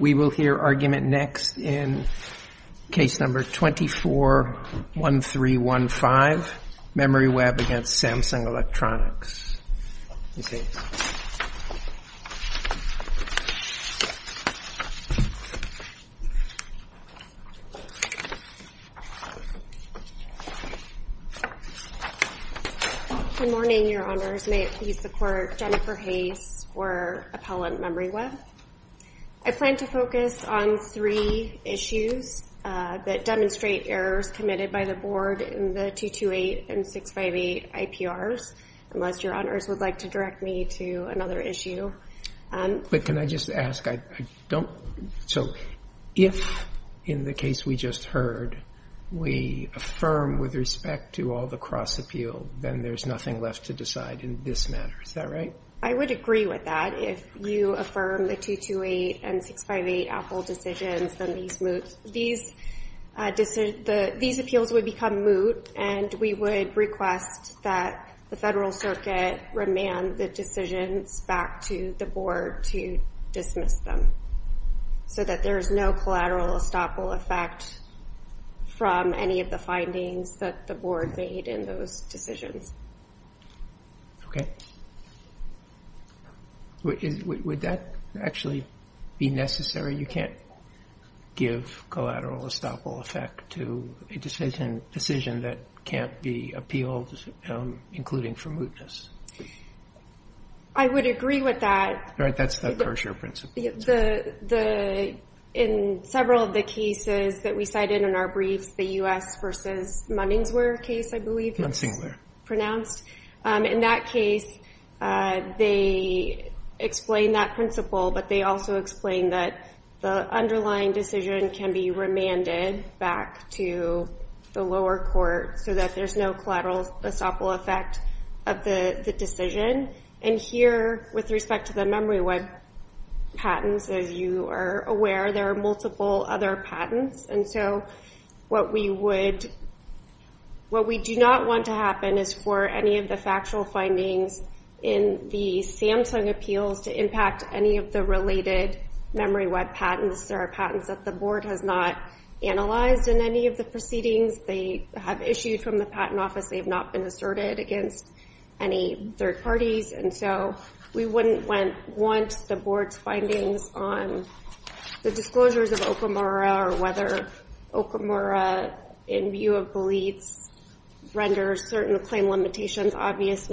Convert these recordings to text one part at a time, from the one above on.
We will hear argument next in Case No. 24-1315, MemoryWeb v. Samsung Electronics. Good morning, Your Honors. May it please the Court, Jennifer Hayes for Appellant MemoryWeb. I plan to focus on three issues that demonstrate errors committed by the Board in the 228 and 658 IPRs. Unless Your Honors would like to direct me to another issue. But can I just ask, if in the case we just heard, we affirm with respect to all the cross-appeal, then there's nothing left to decide in this matter, is that right? I would agree with that. If you affirm the 228 and 658 Apple decisions, then these appeals would become moot and we would request that the Federal Circuit remand the decisions back to the Board to dismiss them so that there is no collateral estoppel effect from any of the findings that the Board made in those decisions. Okay. Would that actually be necessary? You can't give collateral estoppel effect to a decision that can't be appealed, including for mootness. I would agree with that. All right, that's the tertiary principle. In several of the cases that we cited in our briefs, the U.S. v. Munningswear case, I believe. In that case, they explain that principle, but they also explain that the underlying decision can be remanded back to the lower court so that there's no collateral estoppel effect of the decision. And here, with respect to the memory web patents, as you are aware, there are multiple other patents. And so what we do not want to happen is for any of the factual findings in the Samsung appeals to impact any of the related memory web patents. There are patents that the Board has not analyzed in any of the proceedings. They have issued from the Patent Office. They have not been asserted against any third parties. And so we wouldn't want the Board's findings on the disclosures of Okamura or whether Okamura, in view of beliefs, renders certain claim limitations obvious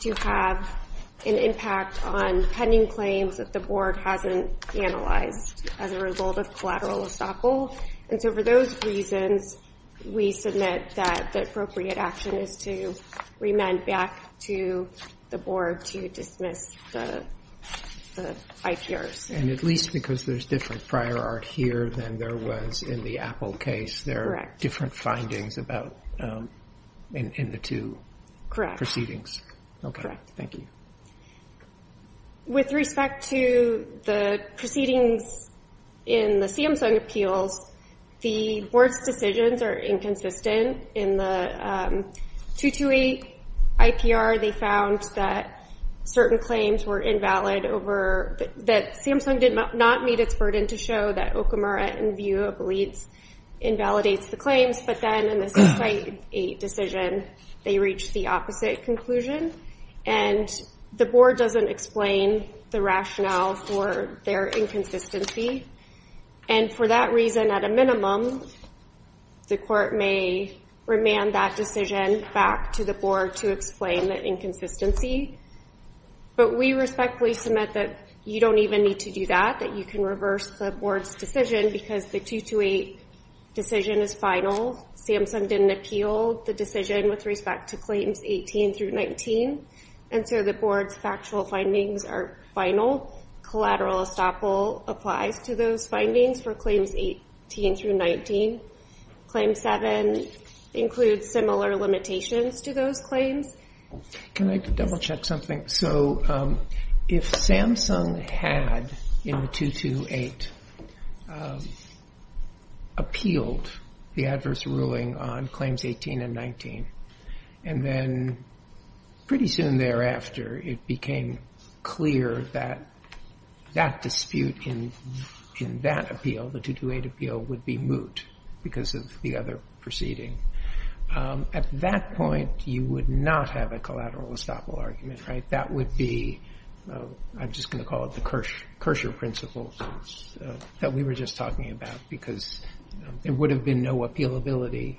to have an impact on pending claims that the Board hasn't analyzed as a result of collateral estoppel. And so for those reasons, we submit that the appropriate action is to remand back to the Board to dismiss the IPRs. And at least because there's different prior art here than there was in the Apple case, there are different findings in the two proceedings. Okay, thank you. With respect to the proceedings in the Samsung appeals, the Board's decisions are inconsistent. In the 228 IPR, they found that certain claims were invalid over – that Samsung did not meet its burden to show that Okamura, in view of beliefs, invalidates the claims. But then in the 698 decision, they reached the opposite conclusion. And the Board doesn't explain the rationale for their inconsistency. And for that reason, at a minimum, the Court may remand that decision back to the Board to explain the inconsistency. But we respectfully submit that you don't even need to do that, that you can reverse the Board's decision because the 228 decision is final. Samsung didn't appeal the decision with respect to claims 18 through 19. And so the Board's factual findings are final. Collateral estoppel applies to those findings for claims 18 through 19. Claim 7 includes similar limitations to those claims. Can I double-check something? So if Samsung had, in the 228, appealed the adverse ruling on claims 18 and 19, and then pretty soon thereafter it became clear that that dispute in that appeal, the 228 appeal, would be moot because of the other proceeding, at that point you would not have a collateral estoppel argument, right? That would be, I'm just going to call it the kersher principle that we were just talking about, because there would have been no appealability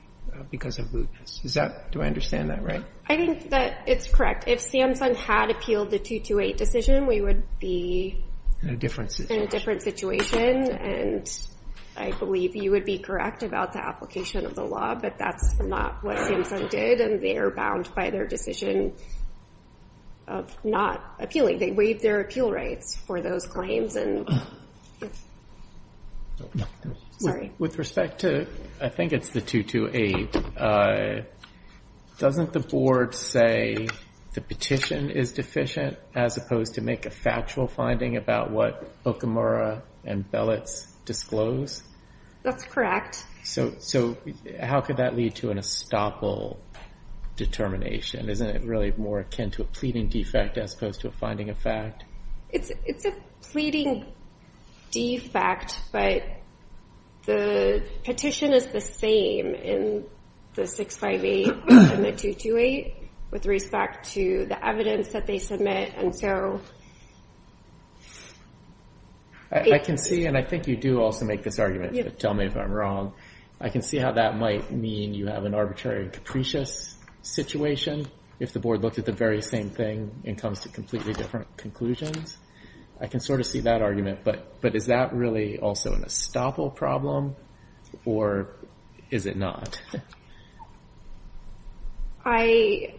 because of mootness. Do I understand that right? I think that it's correct. If Samsung had appealed the 228 decision, we would be in a different situation. And I believe you would be correct about the application of the law, but that's not what Samsung did, and they're bound by their decision of not appealing. They waived their appeal rights for those claims. With respect to, I think it's the 228, doesn't the Board say the petition is deficient, as opposed to make a factual finding about what Okamura and Belitz disclose? That's correct. So how could that lead to an estoppel determination? Isn't it really more akin to a pleading defect as opposed to a finding of fact? It's a pleading defect, but the petition is the same in the 658 and the 228 with respect to the evidence that they submit. I can see, and I think you do also make this argument, but tell me if I'm wrong. I can see how that might mean you have an arbitrary and capricious situation if the Board looked at the very same thing and comes to completely different conclusions. I can sort of see that argument, but is that really also an estoppel problem, or is it not? I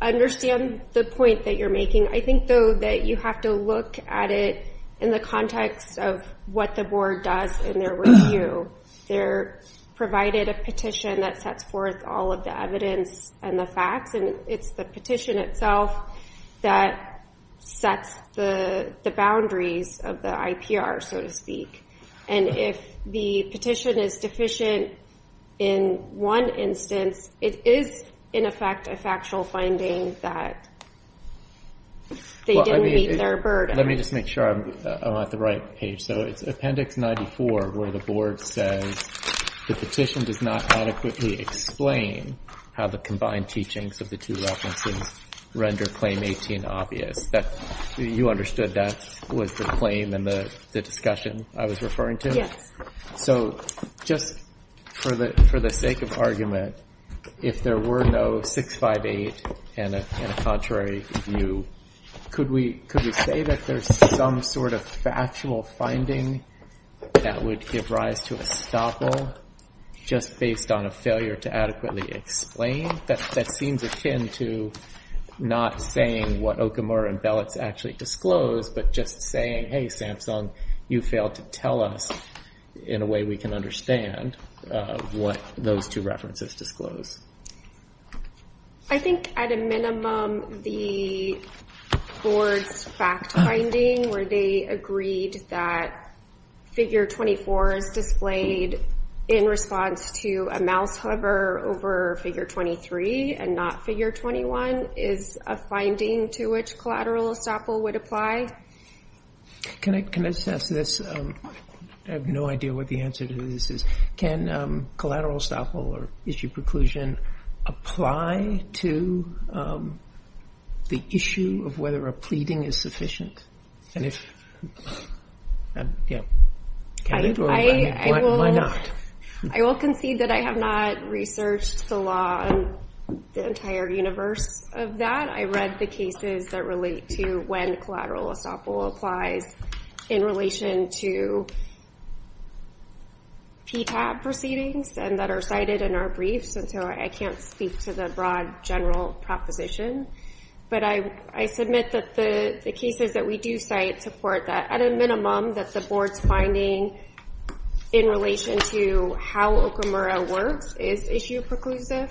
understand the point that you're making. I think, though, that you have to look at it in the context of what the Board does in their review. They provided a petition that sets forth all of the evidence and the facts, and it's the petition itself that sets the boundaries of the IPR, so to speak. If the petition is deficient in one instance, it is, in effect, a factual finding that they didn't meet their burden. Let me just make sure I'm at the right page. It's Appendix 94 where the Board says the petition does not adequately explain how the combined teachings of the two references render Claim 18 obvious. You understood that was the claim and the discussion I was referring to? So just for the sake of argument, if there were no 658 and a contrary view, could we say that there's some sort of factual finding that would give rise to estoppel just based on a failure to adequately explain? That seems akin to not saying what Okamura and Belitz actually disclose, but just saying, hey, Samsung, you failed to tell us in a way we can understand what those two references disclose. I think, at a minimum, the Board's fact-finding where they agreed that Figure 24 is displayed in response to a mouse hover over Figure 23 and not Figure 21 is a finding to which collateral estoppel would apply. Can I just ask this? I have no idea what the answer to this is. Can collateral estoppel or issue preclusion apply to the issue of whether a pleading is sufficient? And if... I will concede that I have not researched the law in the entire universe of that. I read the cases that relate to when collateral estoppel applies in relation to PTAB proceedings and that are cited in our briefs, and so I can't speak to the broad general proposition. But I submit that the cases that we do cite support that, at a minimum, that the Board's finding in relation to how Okamura works is issue preclusive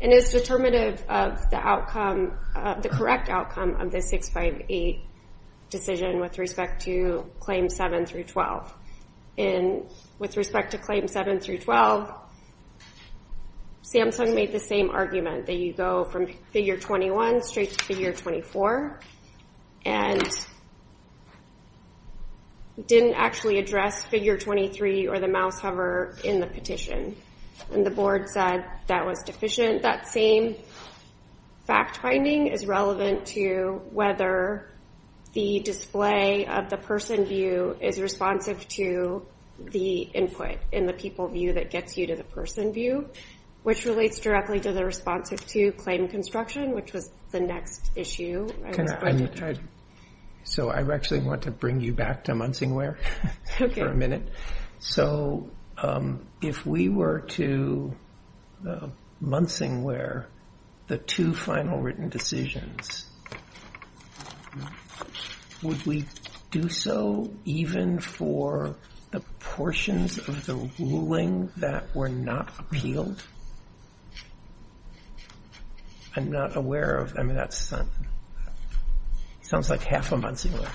and is determinative of the correct outcome of the 658 decision with respect to Claims 7 through 12. And with respect to Claims 7 through 12, Samsung made the same argument that you go from Figure 21 straight to Figure 24 and didn't actually address Figure 23 or the mouse hover in the petition. And the Board said that was deficient. That same fact-finding is relevant to whether the display of the person view is responsive to the input in the people view that gets you to the person view, which relates directly to the responsive to claim construction, which was the next issue. So I actually want to bring you back to Munsingware for a minute. So if we were to Munsingware the two final written decisions, would we do so even for the portions of the ruling that were not appealed? I'm not aware of, I mean, that sounds like half of Munsingware.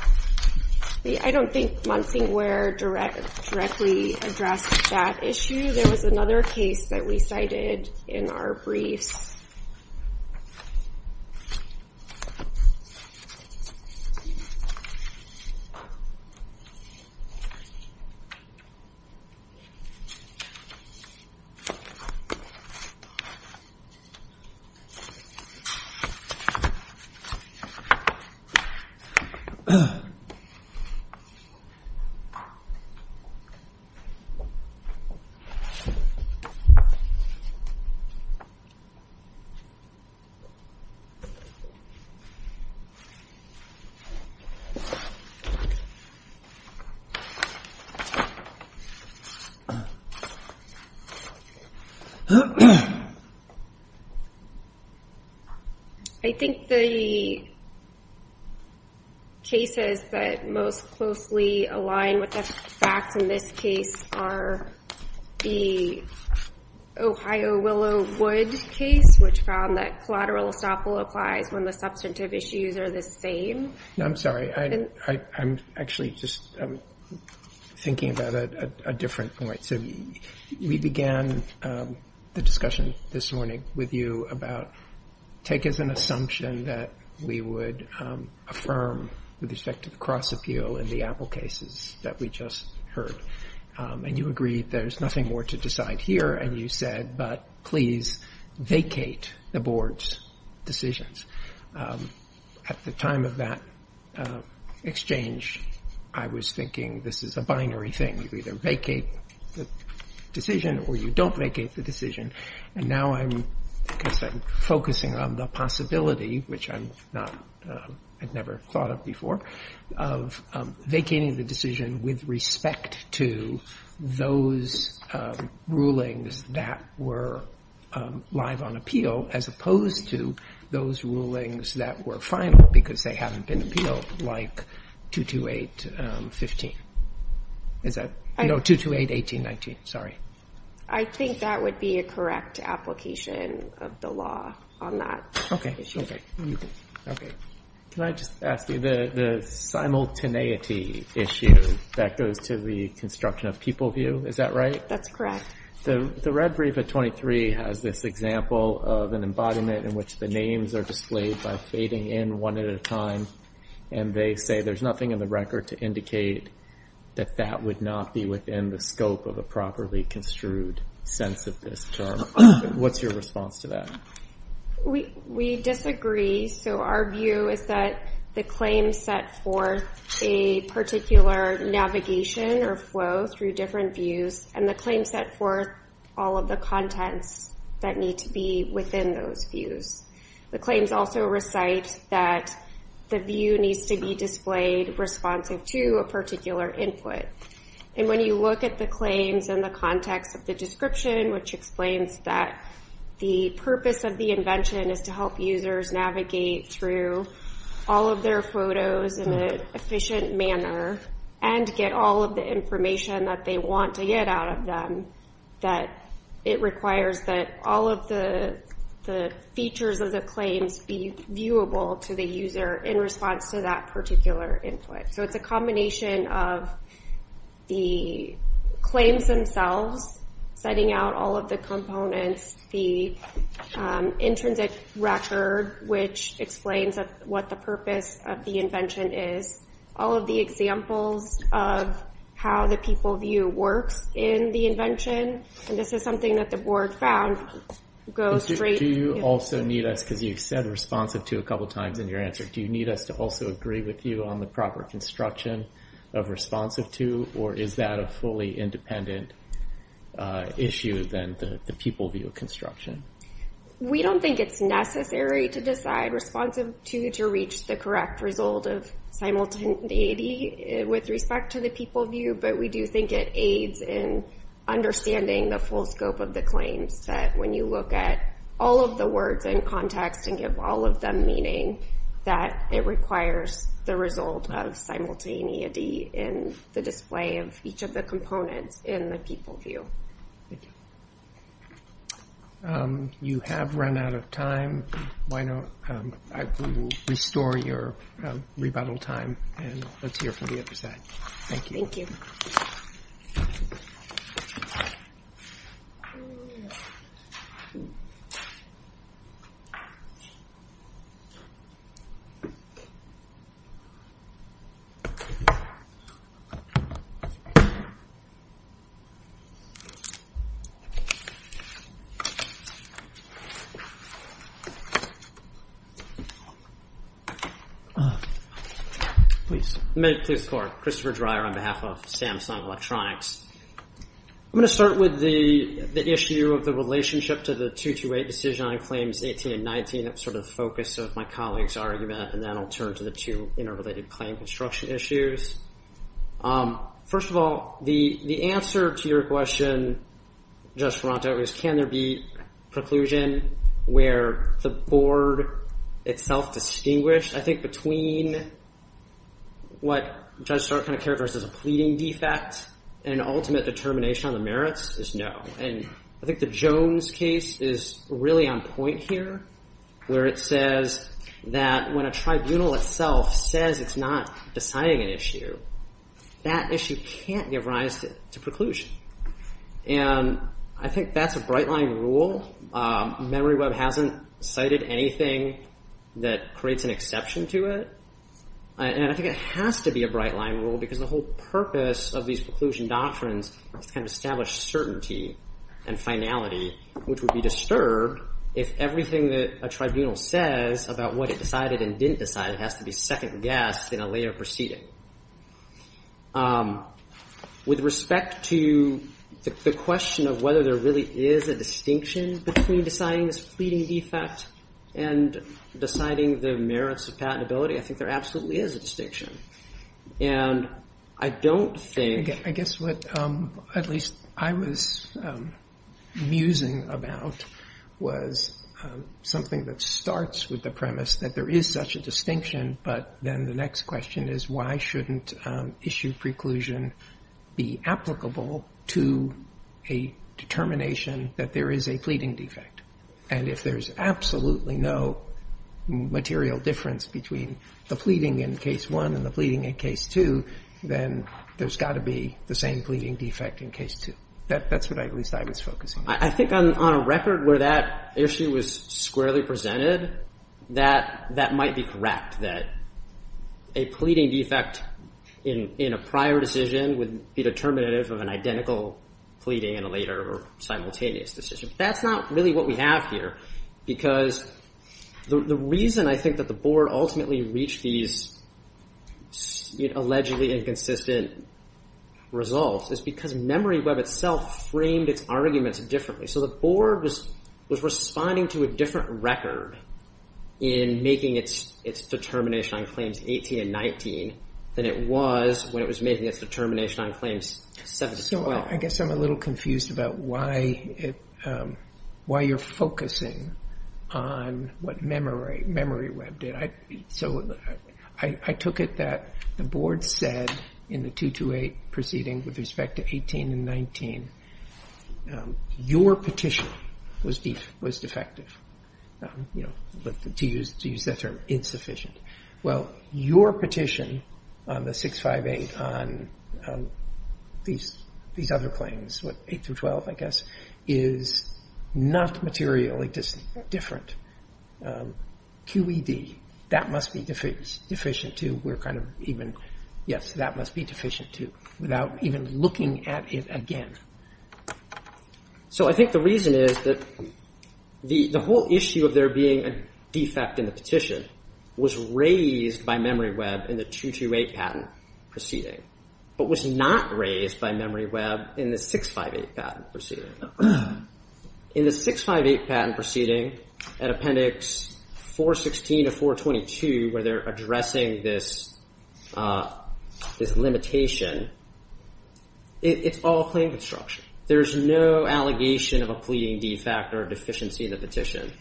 I don't think Munsingware directly addressed that issue. There was another case that we cited in our briefs. I'm not aware of. I think the cases that most closely align with the facts in this case are the Ohio Willow Wood case, which found that collateral estoppel applies when the substantive issues are the same. I'm sorry. I'm actually just thinking about a different point. So we began the discussion this morning with you about take as an assumption that we would affirm with respect to the cross-appeal in the Apple cases that we just heard. And you agreed there's nothing more to decide here. And you said, but please vacate the board's decisions. At the time of that exchange, I was thinking this is a binary thing. You either vacate the decision or you don't vacate the decision. And now I'm focusing on the possibility, which I've never thought of before, of vacating the decision with respect to those rulings that were live on appeal as opposed to those rulings that were final because they haven't been appealed, like 228.18.19. I think that would be a correct application of the law on that issue. Can I just ask you, the simultaneity issue that goes to the construction of people view, is that right? That's correct. The red brief at 23 has this example of an embodiment in which the names are displayed by fading in one at a time, and they say there's nothing in the record to indicate that that would not be within the scope of a properly construed sense of this term. What's your response to that? We disagree, so our view is that the claims set forth a particular navigation or flow through different views, and the claims set forth all of the contents that need to be within those views. The claims also recite that the view needs to be displayed responsive to a particular input. And when you look at the claims and the context of the description, which explains that the purpose of the invention is to help users navigate through all of their photos in an efficient manner and get all of the information that they want to get out of them, that it requires that all of the features of the claims be viewable to the user in response to that particular input. So it's a combination of the claims themselves, setting out all of the components, the intrinsic record, which explains what the purpose of the invention is, all of the examples of how the people view works in the invention, and this is something that the board found. Do you also need us, because you've said responsive to a couple times in your answer, do you need us to also agree with you on the proper construction of responsive to, or is that a fully independent issue than the people view construction? We don't think it's necessary to decide responsive to to reach the correct result of simultaneity with respect to the people view, but we do think it aids in understanding the full scope of the claims, that when you look at all of the words in context and give all of them meaning, that it requires the result of simultaneity in the display of each of the components in the people view. You have run out of time. I will restore your rebuttal time, and let's hear from the other side. Thank you. Please. May it please the court. Christopher Dreyer on behalf of Samsung Electronics. I'm going to start with the issue of the relationship to the 228 decision on claims 18 and 19. That's sort of the focus of my colleague's argument, and then I'll turn to the two interrelated claim construction issues. First of all, the answer to your question, Judge Ferrante, was can there be preclusion where the board itself distinguished? I think between what Judge Stark kind of characterizes as a pleading defect and an ultimate determination on the merits is no. I think the Jones case is really on point here, where it says that when a tribunal itself says it's not deciding an issue, that issue can't give rise to preclusion. And I think that's a bright line rule. MemoryWeb hasn't cited anything that creates an exception to it, and I think it has to be a bright line rule because the whole purpose of these preclusion doctrines is to kind of establish certainty and finality, which would be disturbed if everything that a tribunal says about what it decided and didn't decide has to be second-guessed in a later proceeding. With respect to the question of whether there really is a distinction between deciding this pleading defect and deciding the merits of patentability, I think there absolutely is a distinction, and I don't think... I guess what at least I was musing about was something that starts with the premise that there is such a distinction, but then the next question is why shouldn't issue preclusion be applicable to a determination that there is a pleading defect? And if there's absolutely no material difference between the pleading in Case 1 and the pleading in Case 2, then there's got to be the same pleading defect in Case 2. That's what at least I was focusing on. I think on a record where that issue was squarely presented, that might be correct, that a pleading defect in a prior decision would be determinative of an identical pleading in a later or simultaneous decision. That's not really what we have here because the reason I think that the Board ultimately reached these allegedly inconsistent results is because MemoryWeb itself framed its arguments differently. So the Board was responding to a different record in making its determination on Claims 18 and 19 than it was when it was making its determination on Claims 7 as well. I guess I'm a little confused about why you're focusing on what MemoryWeb did. So I took it that the Board said in the 228 proceeding with respect to 18 and 19, your petition was defective, to use that term, insufficient. Well, your petition on the 658 on these other claims, 8 through 12, I guess, is not materially different. QED, that must be deficient too. Yes, that must be deficient too, without even looking at it again. So I think the reason is that the whole issue of there being a defect in the petition was raised by MemoryWeb in the 228 patent proceeding, but was not raised by MemoryWeb in the 658 patent proceeding. In the 658 patent proceeding, at Appendix 416 to 422, where they're addressing this limitation, it's all claim construction. There's no allegation of a pleading defect or deficiency in the petition.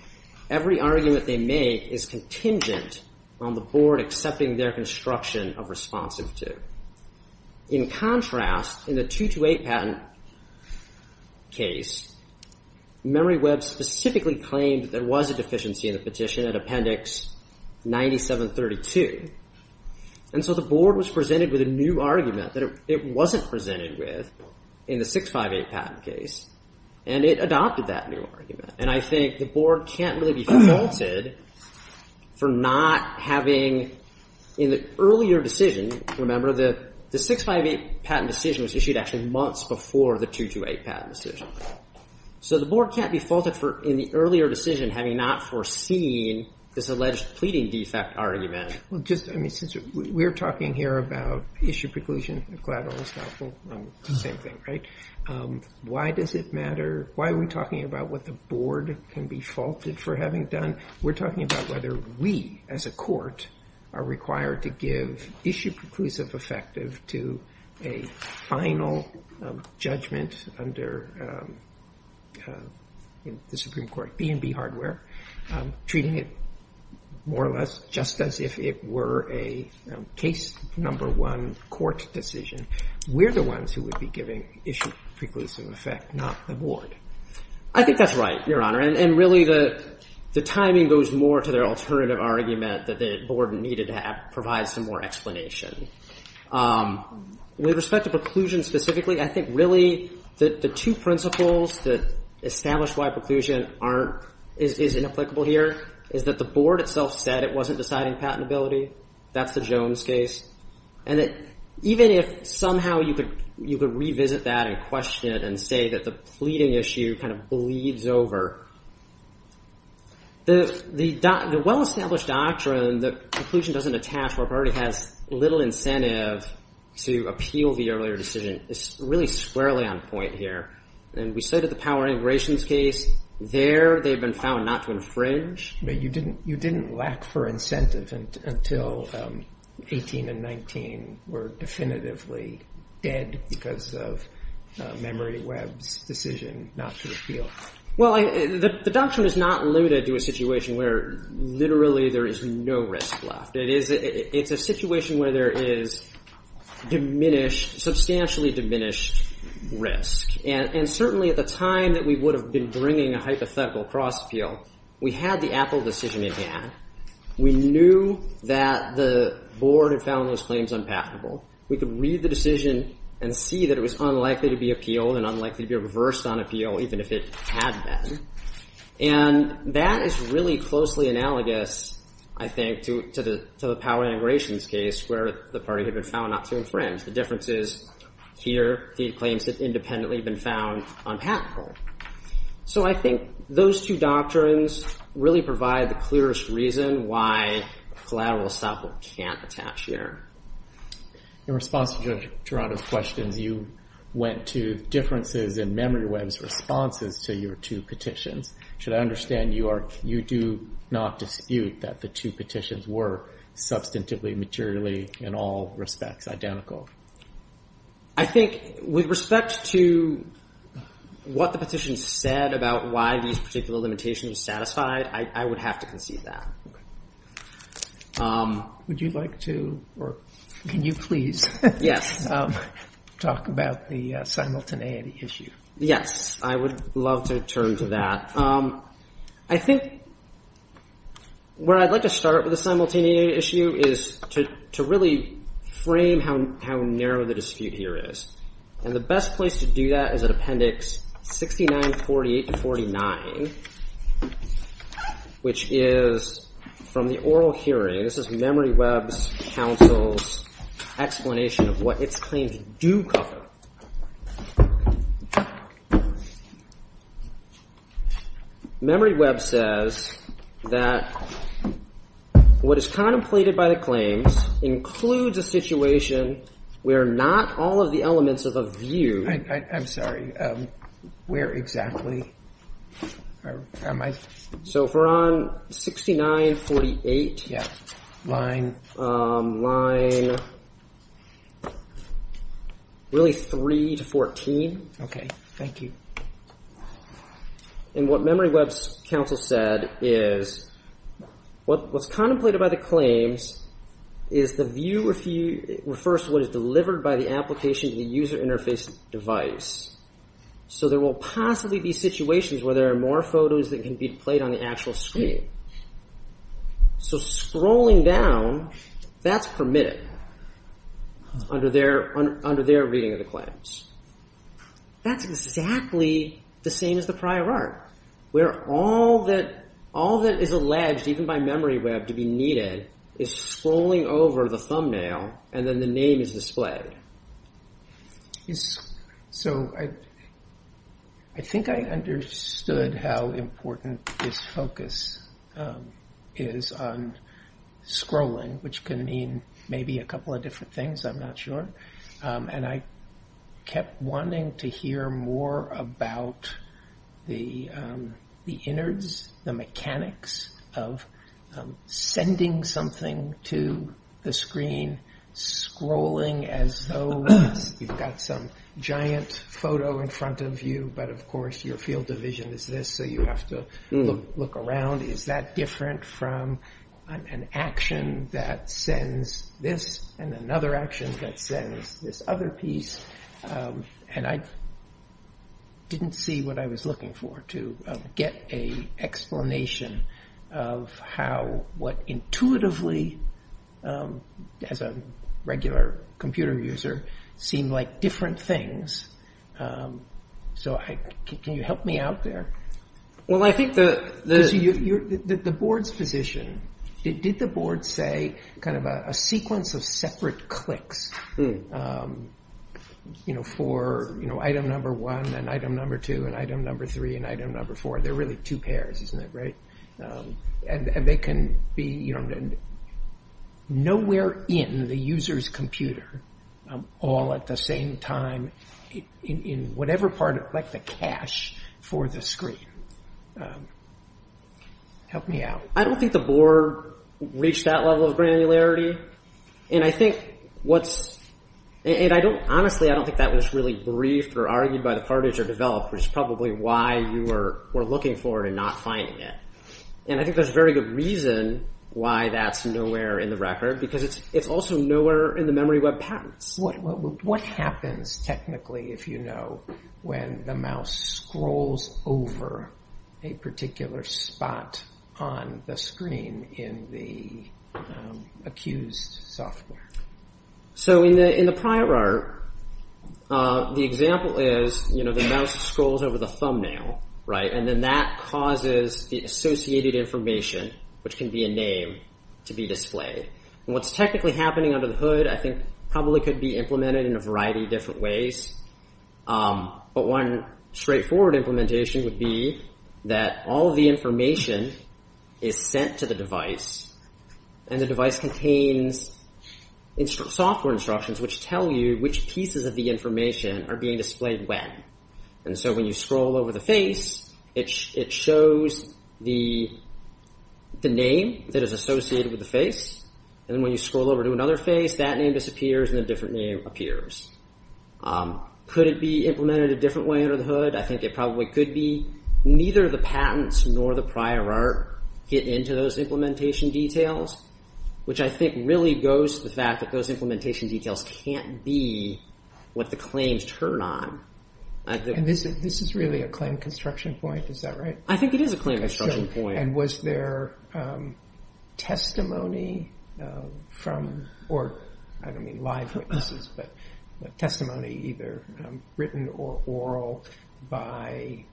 Every argument they make is contingent on the Board accepting their construction of responsive to. In contrast, in the 228 patent case, MemoryWeb specifically claimed there was a deficiency in the petition at Appendix 9732. And so the Board was presented with a new argument that it wasn't presented with in the 658 patent case, and it adopted that new argument. And I think the Board can't really be faulted for not having, in the earlier decision, remember, the 658 patent decision was issued actually months before the 228 patent decision. So the Board can't be faulted for, in the earlier decision, having not foreseen this alleged pleading defect argument. Well, just, I mean, since we're talking here about issue preclusion, collateral and stocking, same thing, right? Why does it matter? Why are we talking about what the Board can be faulted for having done? We're talking about whether we, as a court, are required to give issue preclusive effective to a final judgment under the Supreme Court, B&B hardware, treating it more or less just as if it were a case number one court decision. We're the ones who would be giving issue preclusive effect, not the Board. I think that's right, Your Honor. And really the timing goes more to their alternative argument that the Board needed to provide some more explanation. With respect to preclusion specifically, I think really the two principles that establish why preclusion is inapplicable here is that the Board itself said it wasn't deciding patentability. That's the Jones case. And that even if somehow you could revisit that and question it and say that the pleading issue kind of bleeds over, the well-established doctrine that preclusion doesn't attach or already has little incentive to appeal the earlier decision is really squarely on point here. And we say to the power integrations case, there they've been found not to infringe. But you didn't lack for incentive until 18 and 19 were definitively dead because of Memory Webb's decision not to appeal. Well, the doctrine is not limited to a situation where literally there is no risk left. It's a situation where there is diminished, substantially diminished risk. And certainly at the time that we would have been bringing a hypothetical cross-appeal, we had the Apple decision in hand. We knew that the Board had found those claims unpatentable. We could read the decision and see that it was unlikely to be appealed and unlikely to be reversed on appeal even if it had been. And that is really closely analogous, I think, to the power integrations case where the party had been found not to infringe. The difference is here, the claims have independently been found unpatentable. So I think those two doctrines really provide the clearest reason why collateral estoppel can't attach here. In response to Judge Gerardo's questions, you went to differences in Memory Webb's responses to your two petitions. Should I understand you do not dispute that the two petitions were substantively, materially, in all respects, identical? I think with respect to what the petition said about why these particular limitations were satisfied, I would have to concede that. Would you like to or can you please talk about the simultaneity issue? Yes, I would love to turn to that. I think where I'd like to start with the simultaneity issue is to really frame how narrow the dispute here is. And the best place to do that is at Appendix 6948-49, which is from the oral hearing. This is Memory Webb's counsel's explanation of what its claims do cover. Memory Webb says that what is contemplated by the claims includes a situation where not all of the elements of a view. I'm sorry, where exactly am I? So if we're on 6948, line really 3 to 14. Okay, thank you. And what Memory Webb's counsel said is what's contemplated by the claims is the view refers to what is delivered by the application to the user interface device. So there will possibly be situations where there are more photos that can be played on the actual screen. So scrolling down, that's permitted under their reading of the claims. That's exactly the same as the prior art, where all that is alleged, even by Memory Webb, to be needed is scrolling over the thumbnail and then the name is displayed. So I think I understood how important this focus is on scrolling, which can mean maybe a couple of different things, I'm not sure. And I kept wanting to hear more about the innards, the mechanics of sending something to the screen, scrolling as though you've got some giant photo in front of you. But of course your field of vision is this, so you have to look around, is that different from an action that sends this and another action that sends this other piece? And I didn't see what I was looking for, to get an explanation of how what intuitively, as a regular computer user, seemed like different things. So can you help me out there? The board's position, did the board say a sequence of separate clicks for item number one and item number two and item number three and item number four? They're really two pairs, isn't it, right? And they can be nowhere in the user's computer, all at the same time, in whatever part, like the cache for the screen. Help me out. I don't think the board reached that level of granularity. And I think what's – and I don't – honestly, I don't think that was really briefed or argued by the partners or developers, probably why you were looking for it and not finding it. And I think there's a very good reason why that's nowhere in the record, because it's also nowhere in the memory web patterns. What happens technically, if you know, when the mouse scrolls over a particular spot on the screen in the accused software? So in the prior art, the example is the mouse scrolls over the thumbnail, right? And then that causes the associated information, which can be a name, to be displayed. And what's technically happening under the hood, I think, probably could be implemented in a variety of different ways. But one straightforward implementation would be that all of the information is sent to the device. And the device contains software instructions, which tell you which pieces of the information are being displayed when. And so when you scroll over the face, it shows the name that is associated with the face. And when you scroll over to another face, that name disappears and a different name appears. Could it be implemented a different way under the hood? I think it probably could be. Neither the patents nor the prior art get into those implementation details, which I think really goes to the fact that those implementation details can't be what the claims turn on. And this is really a claim construction point, is that right? I think it is a claim construction point. And was there testimony from, or I don't mean live witnesses, but testimony either written or oral by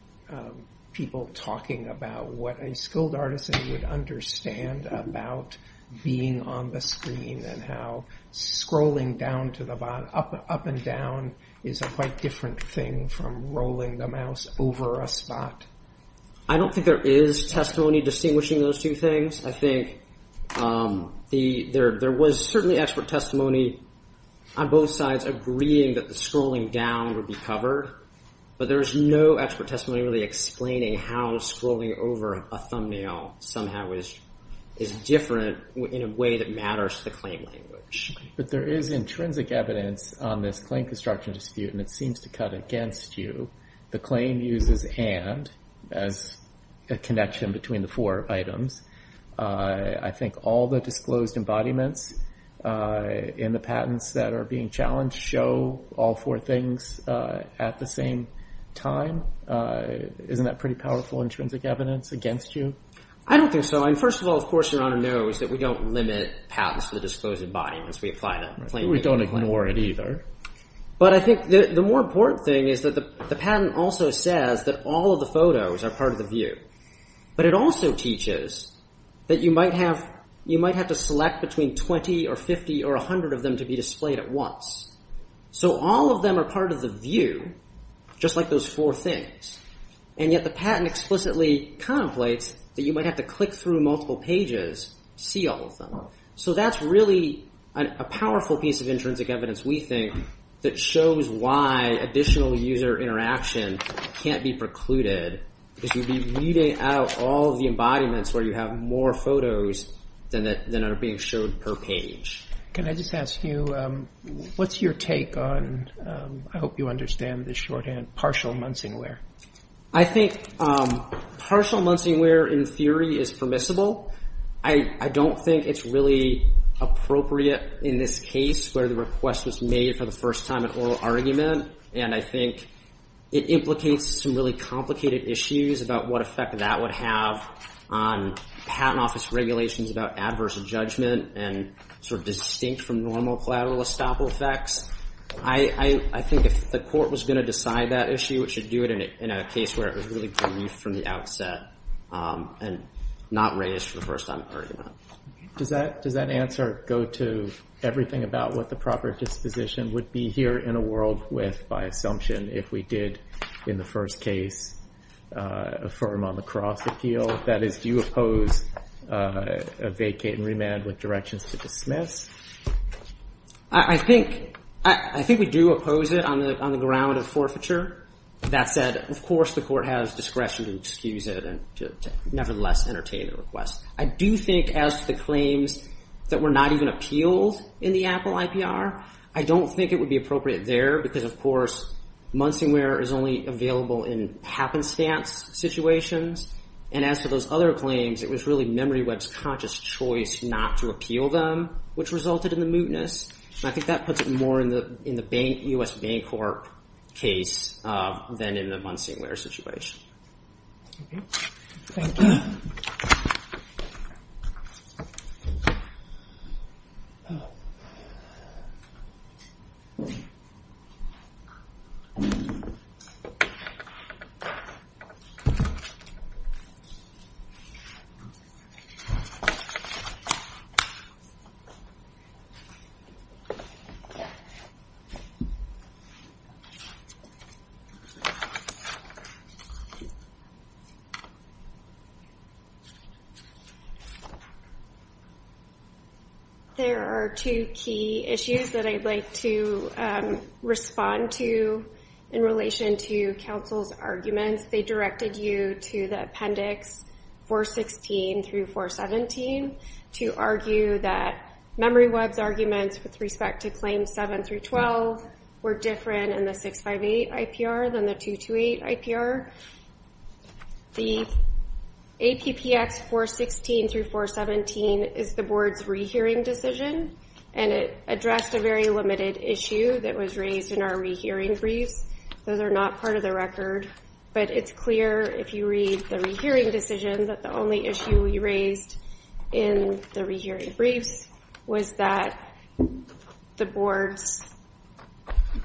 people talking about what a skilled artist would understand about being on the screen and how scrolling down to the bottom, up and down, is a quite different thing from rolling the mouse over a spot. I don't think there is testimony distinguishing those two things. I think there was certainly expert testimony on both sides agreeing that the scrolling down would be covered. But there was no expert testimony really explaining how scrolling over a thumbnail somehow is different in a way that matters to the claim language. But there is intrinsic evidence on this claim construction dispute, and it seems to cut against you. The claim uses and as a connection between the four items. I think all the disclosed embodiments in the patents that are being challenged show all four things at the same time. Isn't that pretty powerful intrinsic evidence against you? I don't think so. I mean, first of all, of course, Your Honor knows that we don't limit patents to the disclosed embodiments. We apply them plainly. We don't ignore it either. But I think the more important thing is that the patent also says that all of the photos are part of the view. But it also teaches that you might have to select between 20 or 50 or 100 of them to be displayed at once. So all of them are part of the view, just like those four things. And yet the patent explicitly contemplates that you might have to click through multiple pages to see all of them. So that's really a powerful piece of intrinsic evidence, we think, that shows why additional user interaction can't be precluded. Because you'd be weeding out all of the embodiments where you have more photos than are being showed per page. Can I just ask you, what's your take on, I hope you understand this shorthand, partial Munsingware? I think partial Munsingware, in theory, is permissible. I don't think it's really appropriate in this case where the request was made for the first time in oral argument. And I think it implicates some really complicated issues about what effect that would have on patent office regulations about adverse judgment and sort of distinct from normal collateral estoppel effects. I think if the court was going to decide that issue, it should do it in a case where it was really brief from the outset and not raised for the first time in argument. Does that answer go to everything about what the proper disposition would be here in a world with, by assumption, if we did, in the first case, affirm on the cross appeal? That is, do you oppose a vacate and remand with directions to dismiss? I think we do oppose it on the ground of forfeiture. That said, of course, the court has discretion to excuse it and to nevertheless entertain the request. I do think, as the claims that were not even appealed in the Apple IPR, I don't think it would be appropriate there because, of course, Munsingware is only available in happenstance situations. And as for those other claims, it was really MemoryWeb's conscious choice not to appeal them, which resulted in the mootness. I think that puts it more in the U.S. Bancorp case than in the Munsingware situation. Thank you. There are two key issues that I'd like to respond to in relation to counsel's arguments. They directed you to the Appendix 416 through 417 to argue that MemoryWeb's arguments with respect to Claims 7 through 12 were different in the 658 IPR than the 228 IPR. The APPX 416 through 417 is the board's rehearing decision, and it addressed a very limited issue that was raised in our rehearing briefs. Those are not part of the record, but it's clear, if you read the rehearing decision, that the only issue we raised in the rehearing briefs was that the board's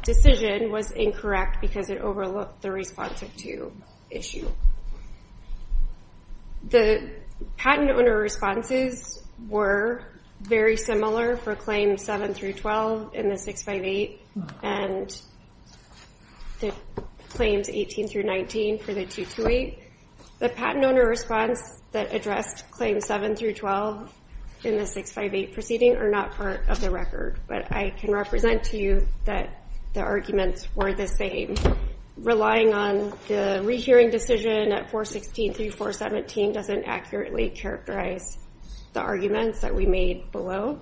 decision was incorrect because it overlooked the responsive to issue. The patent owner responses were very similar for Claims 7 through 12 in the 658, and the board's response was very different. The patent owner response that addressed Claims 7 through 12 in the 658 proceeding are not part of the record, but I can represent to you that the arguments were the same. Relying on the rehearing decision at 416 through 417 doesn't accurately characterize the arguments that we made below.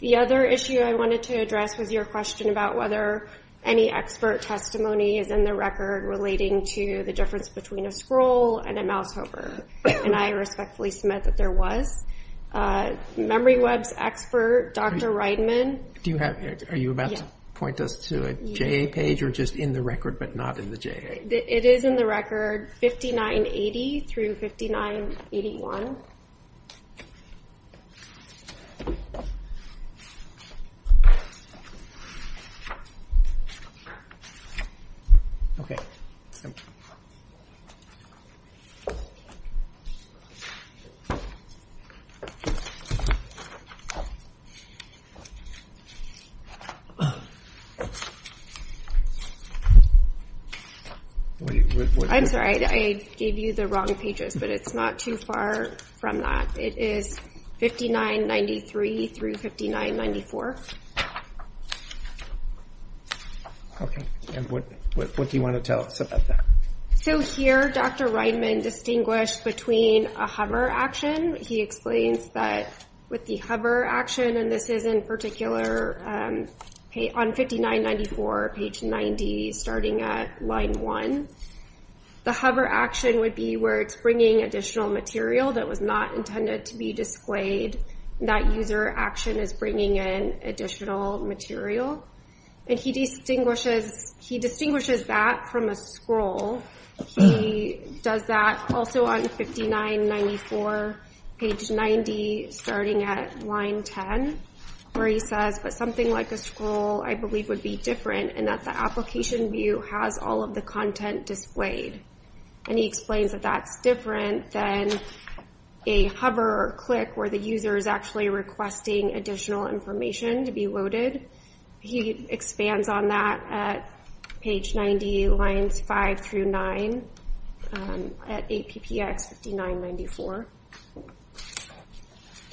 The other issue I wanted to address was your question about whether any expert testimony is in the record relating to the difference between a scroll and a mouse hover, and I respectfully submit that there was. MemoryWeb's expert, Dr. Reidman... Are you about to point us to a JA page or just in the record but not in the JA? It is in the record 5980 through 5981. I'm sorry, I gave you the wrong pages, but it's not too far from that. It is 5993 through 5994. And what do you want to tell us about that? So here, Dr. Reidman distinguished between a hover action. He explains that with the hover action, and this is in particular on 5994, page 90, starting at line 1. The hover action would be where it's bringing additional material that was not intended to be displayed. That user action is bringing in additional material, and he distinguishes that from a scroll. He does that also on 5994, page 90, starting at line 10, where he says, but something like a scroll, I believe, would be different in that the application view has all of the content displayed. And he explains that that's different than a hover or click where the user is actually requesting additional information to be loaded. He expands on that at page 90, lines 5 through 9, at APPX 5994.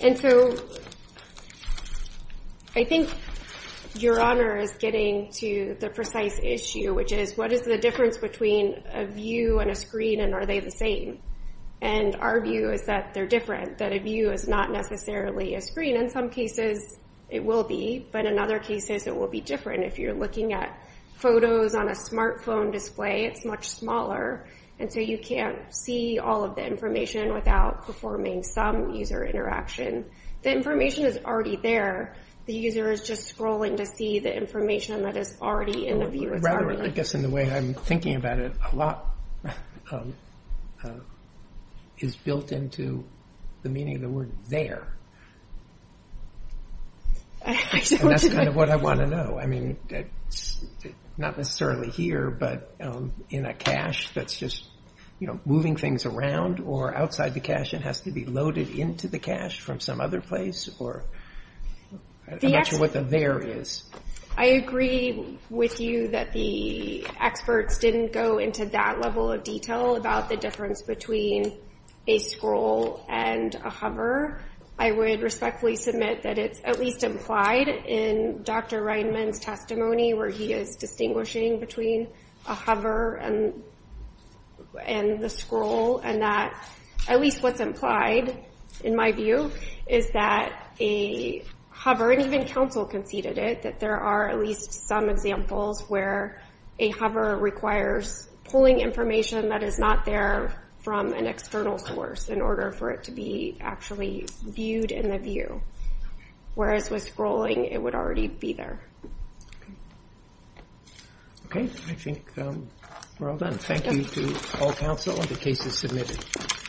And so, I think your honor is getting to the precise issue, which is, what is the difference between a view and a screen, and are they the same? And our view is that they're different, that a view is not necessarily a screen. In some cases, it will be, but in other cases, it will be different. If you're looking at photos on a smartphone display, it's much smaller, and so you can't see all of the information without performing some user interaction. The information is already there. The user is just scrolling to see the information that is already in the view. I guess in the way I'm thinking about it, a lot is built into the meaning of the word there. And that's kind of what I want to know. Not necessarily here, but in a cache that's just moving things around, or outside the cache and has to be loaded into the cache from some other place. I'm not sure what the there is. I agree with you that the experts didn't go into that level of detail about the difference between a scroll and a hover. I would respectfully submit that it's at least implied in Dr. Reidman's testimony, where he is distinguishing between a hover and the scroll. At least what's implied, in my view, is that a hover, and even counsel conceded it, that there are at least some examples where a hover requires pulling information that is not there from an external source in order for it to be actually viewed in the view. Whereas with scrolling, it would already be there. Okay, I think we're all done. Thank you to all counsel. The case is submitted.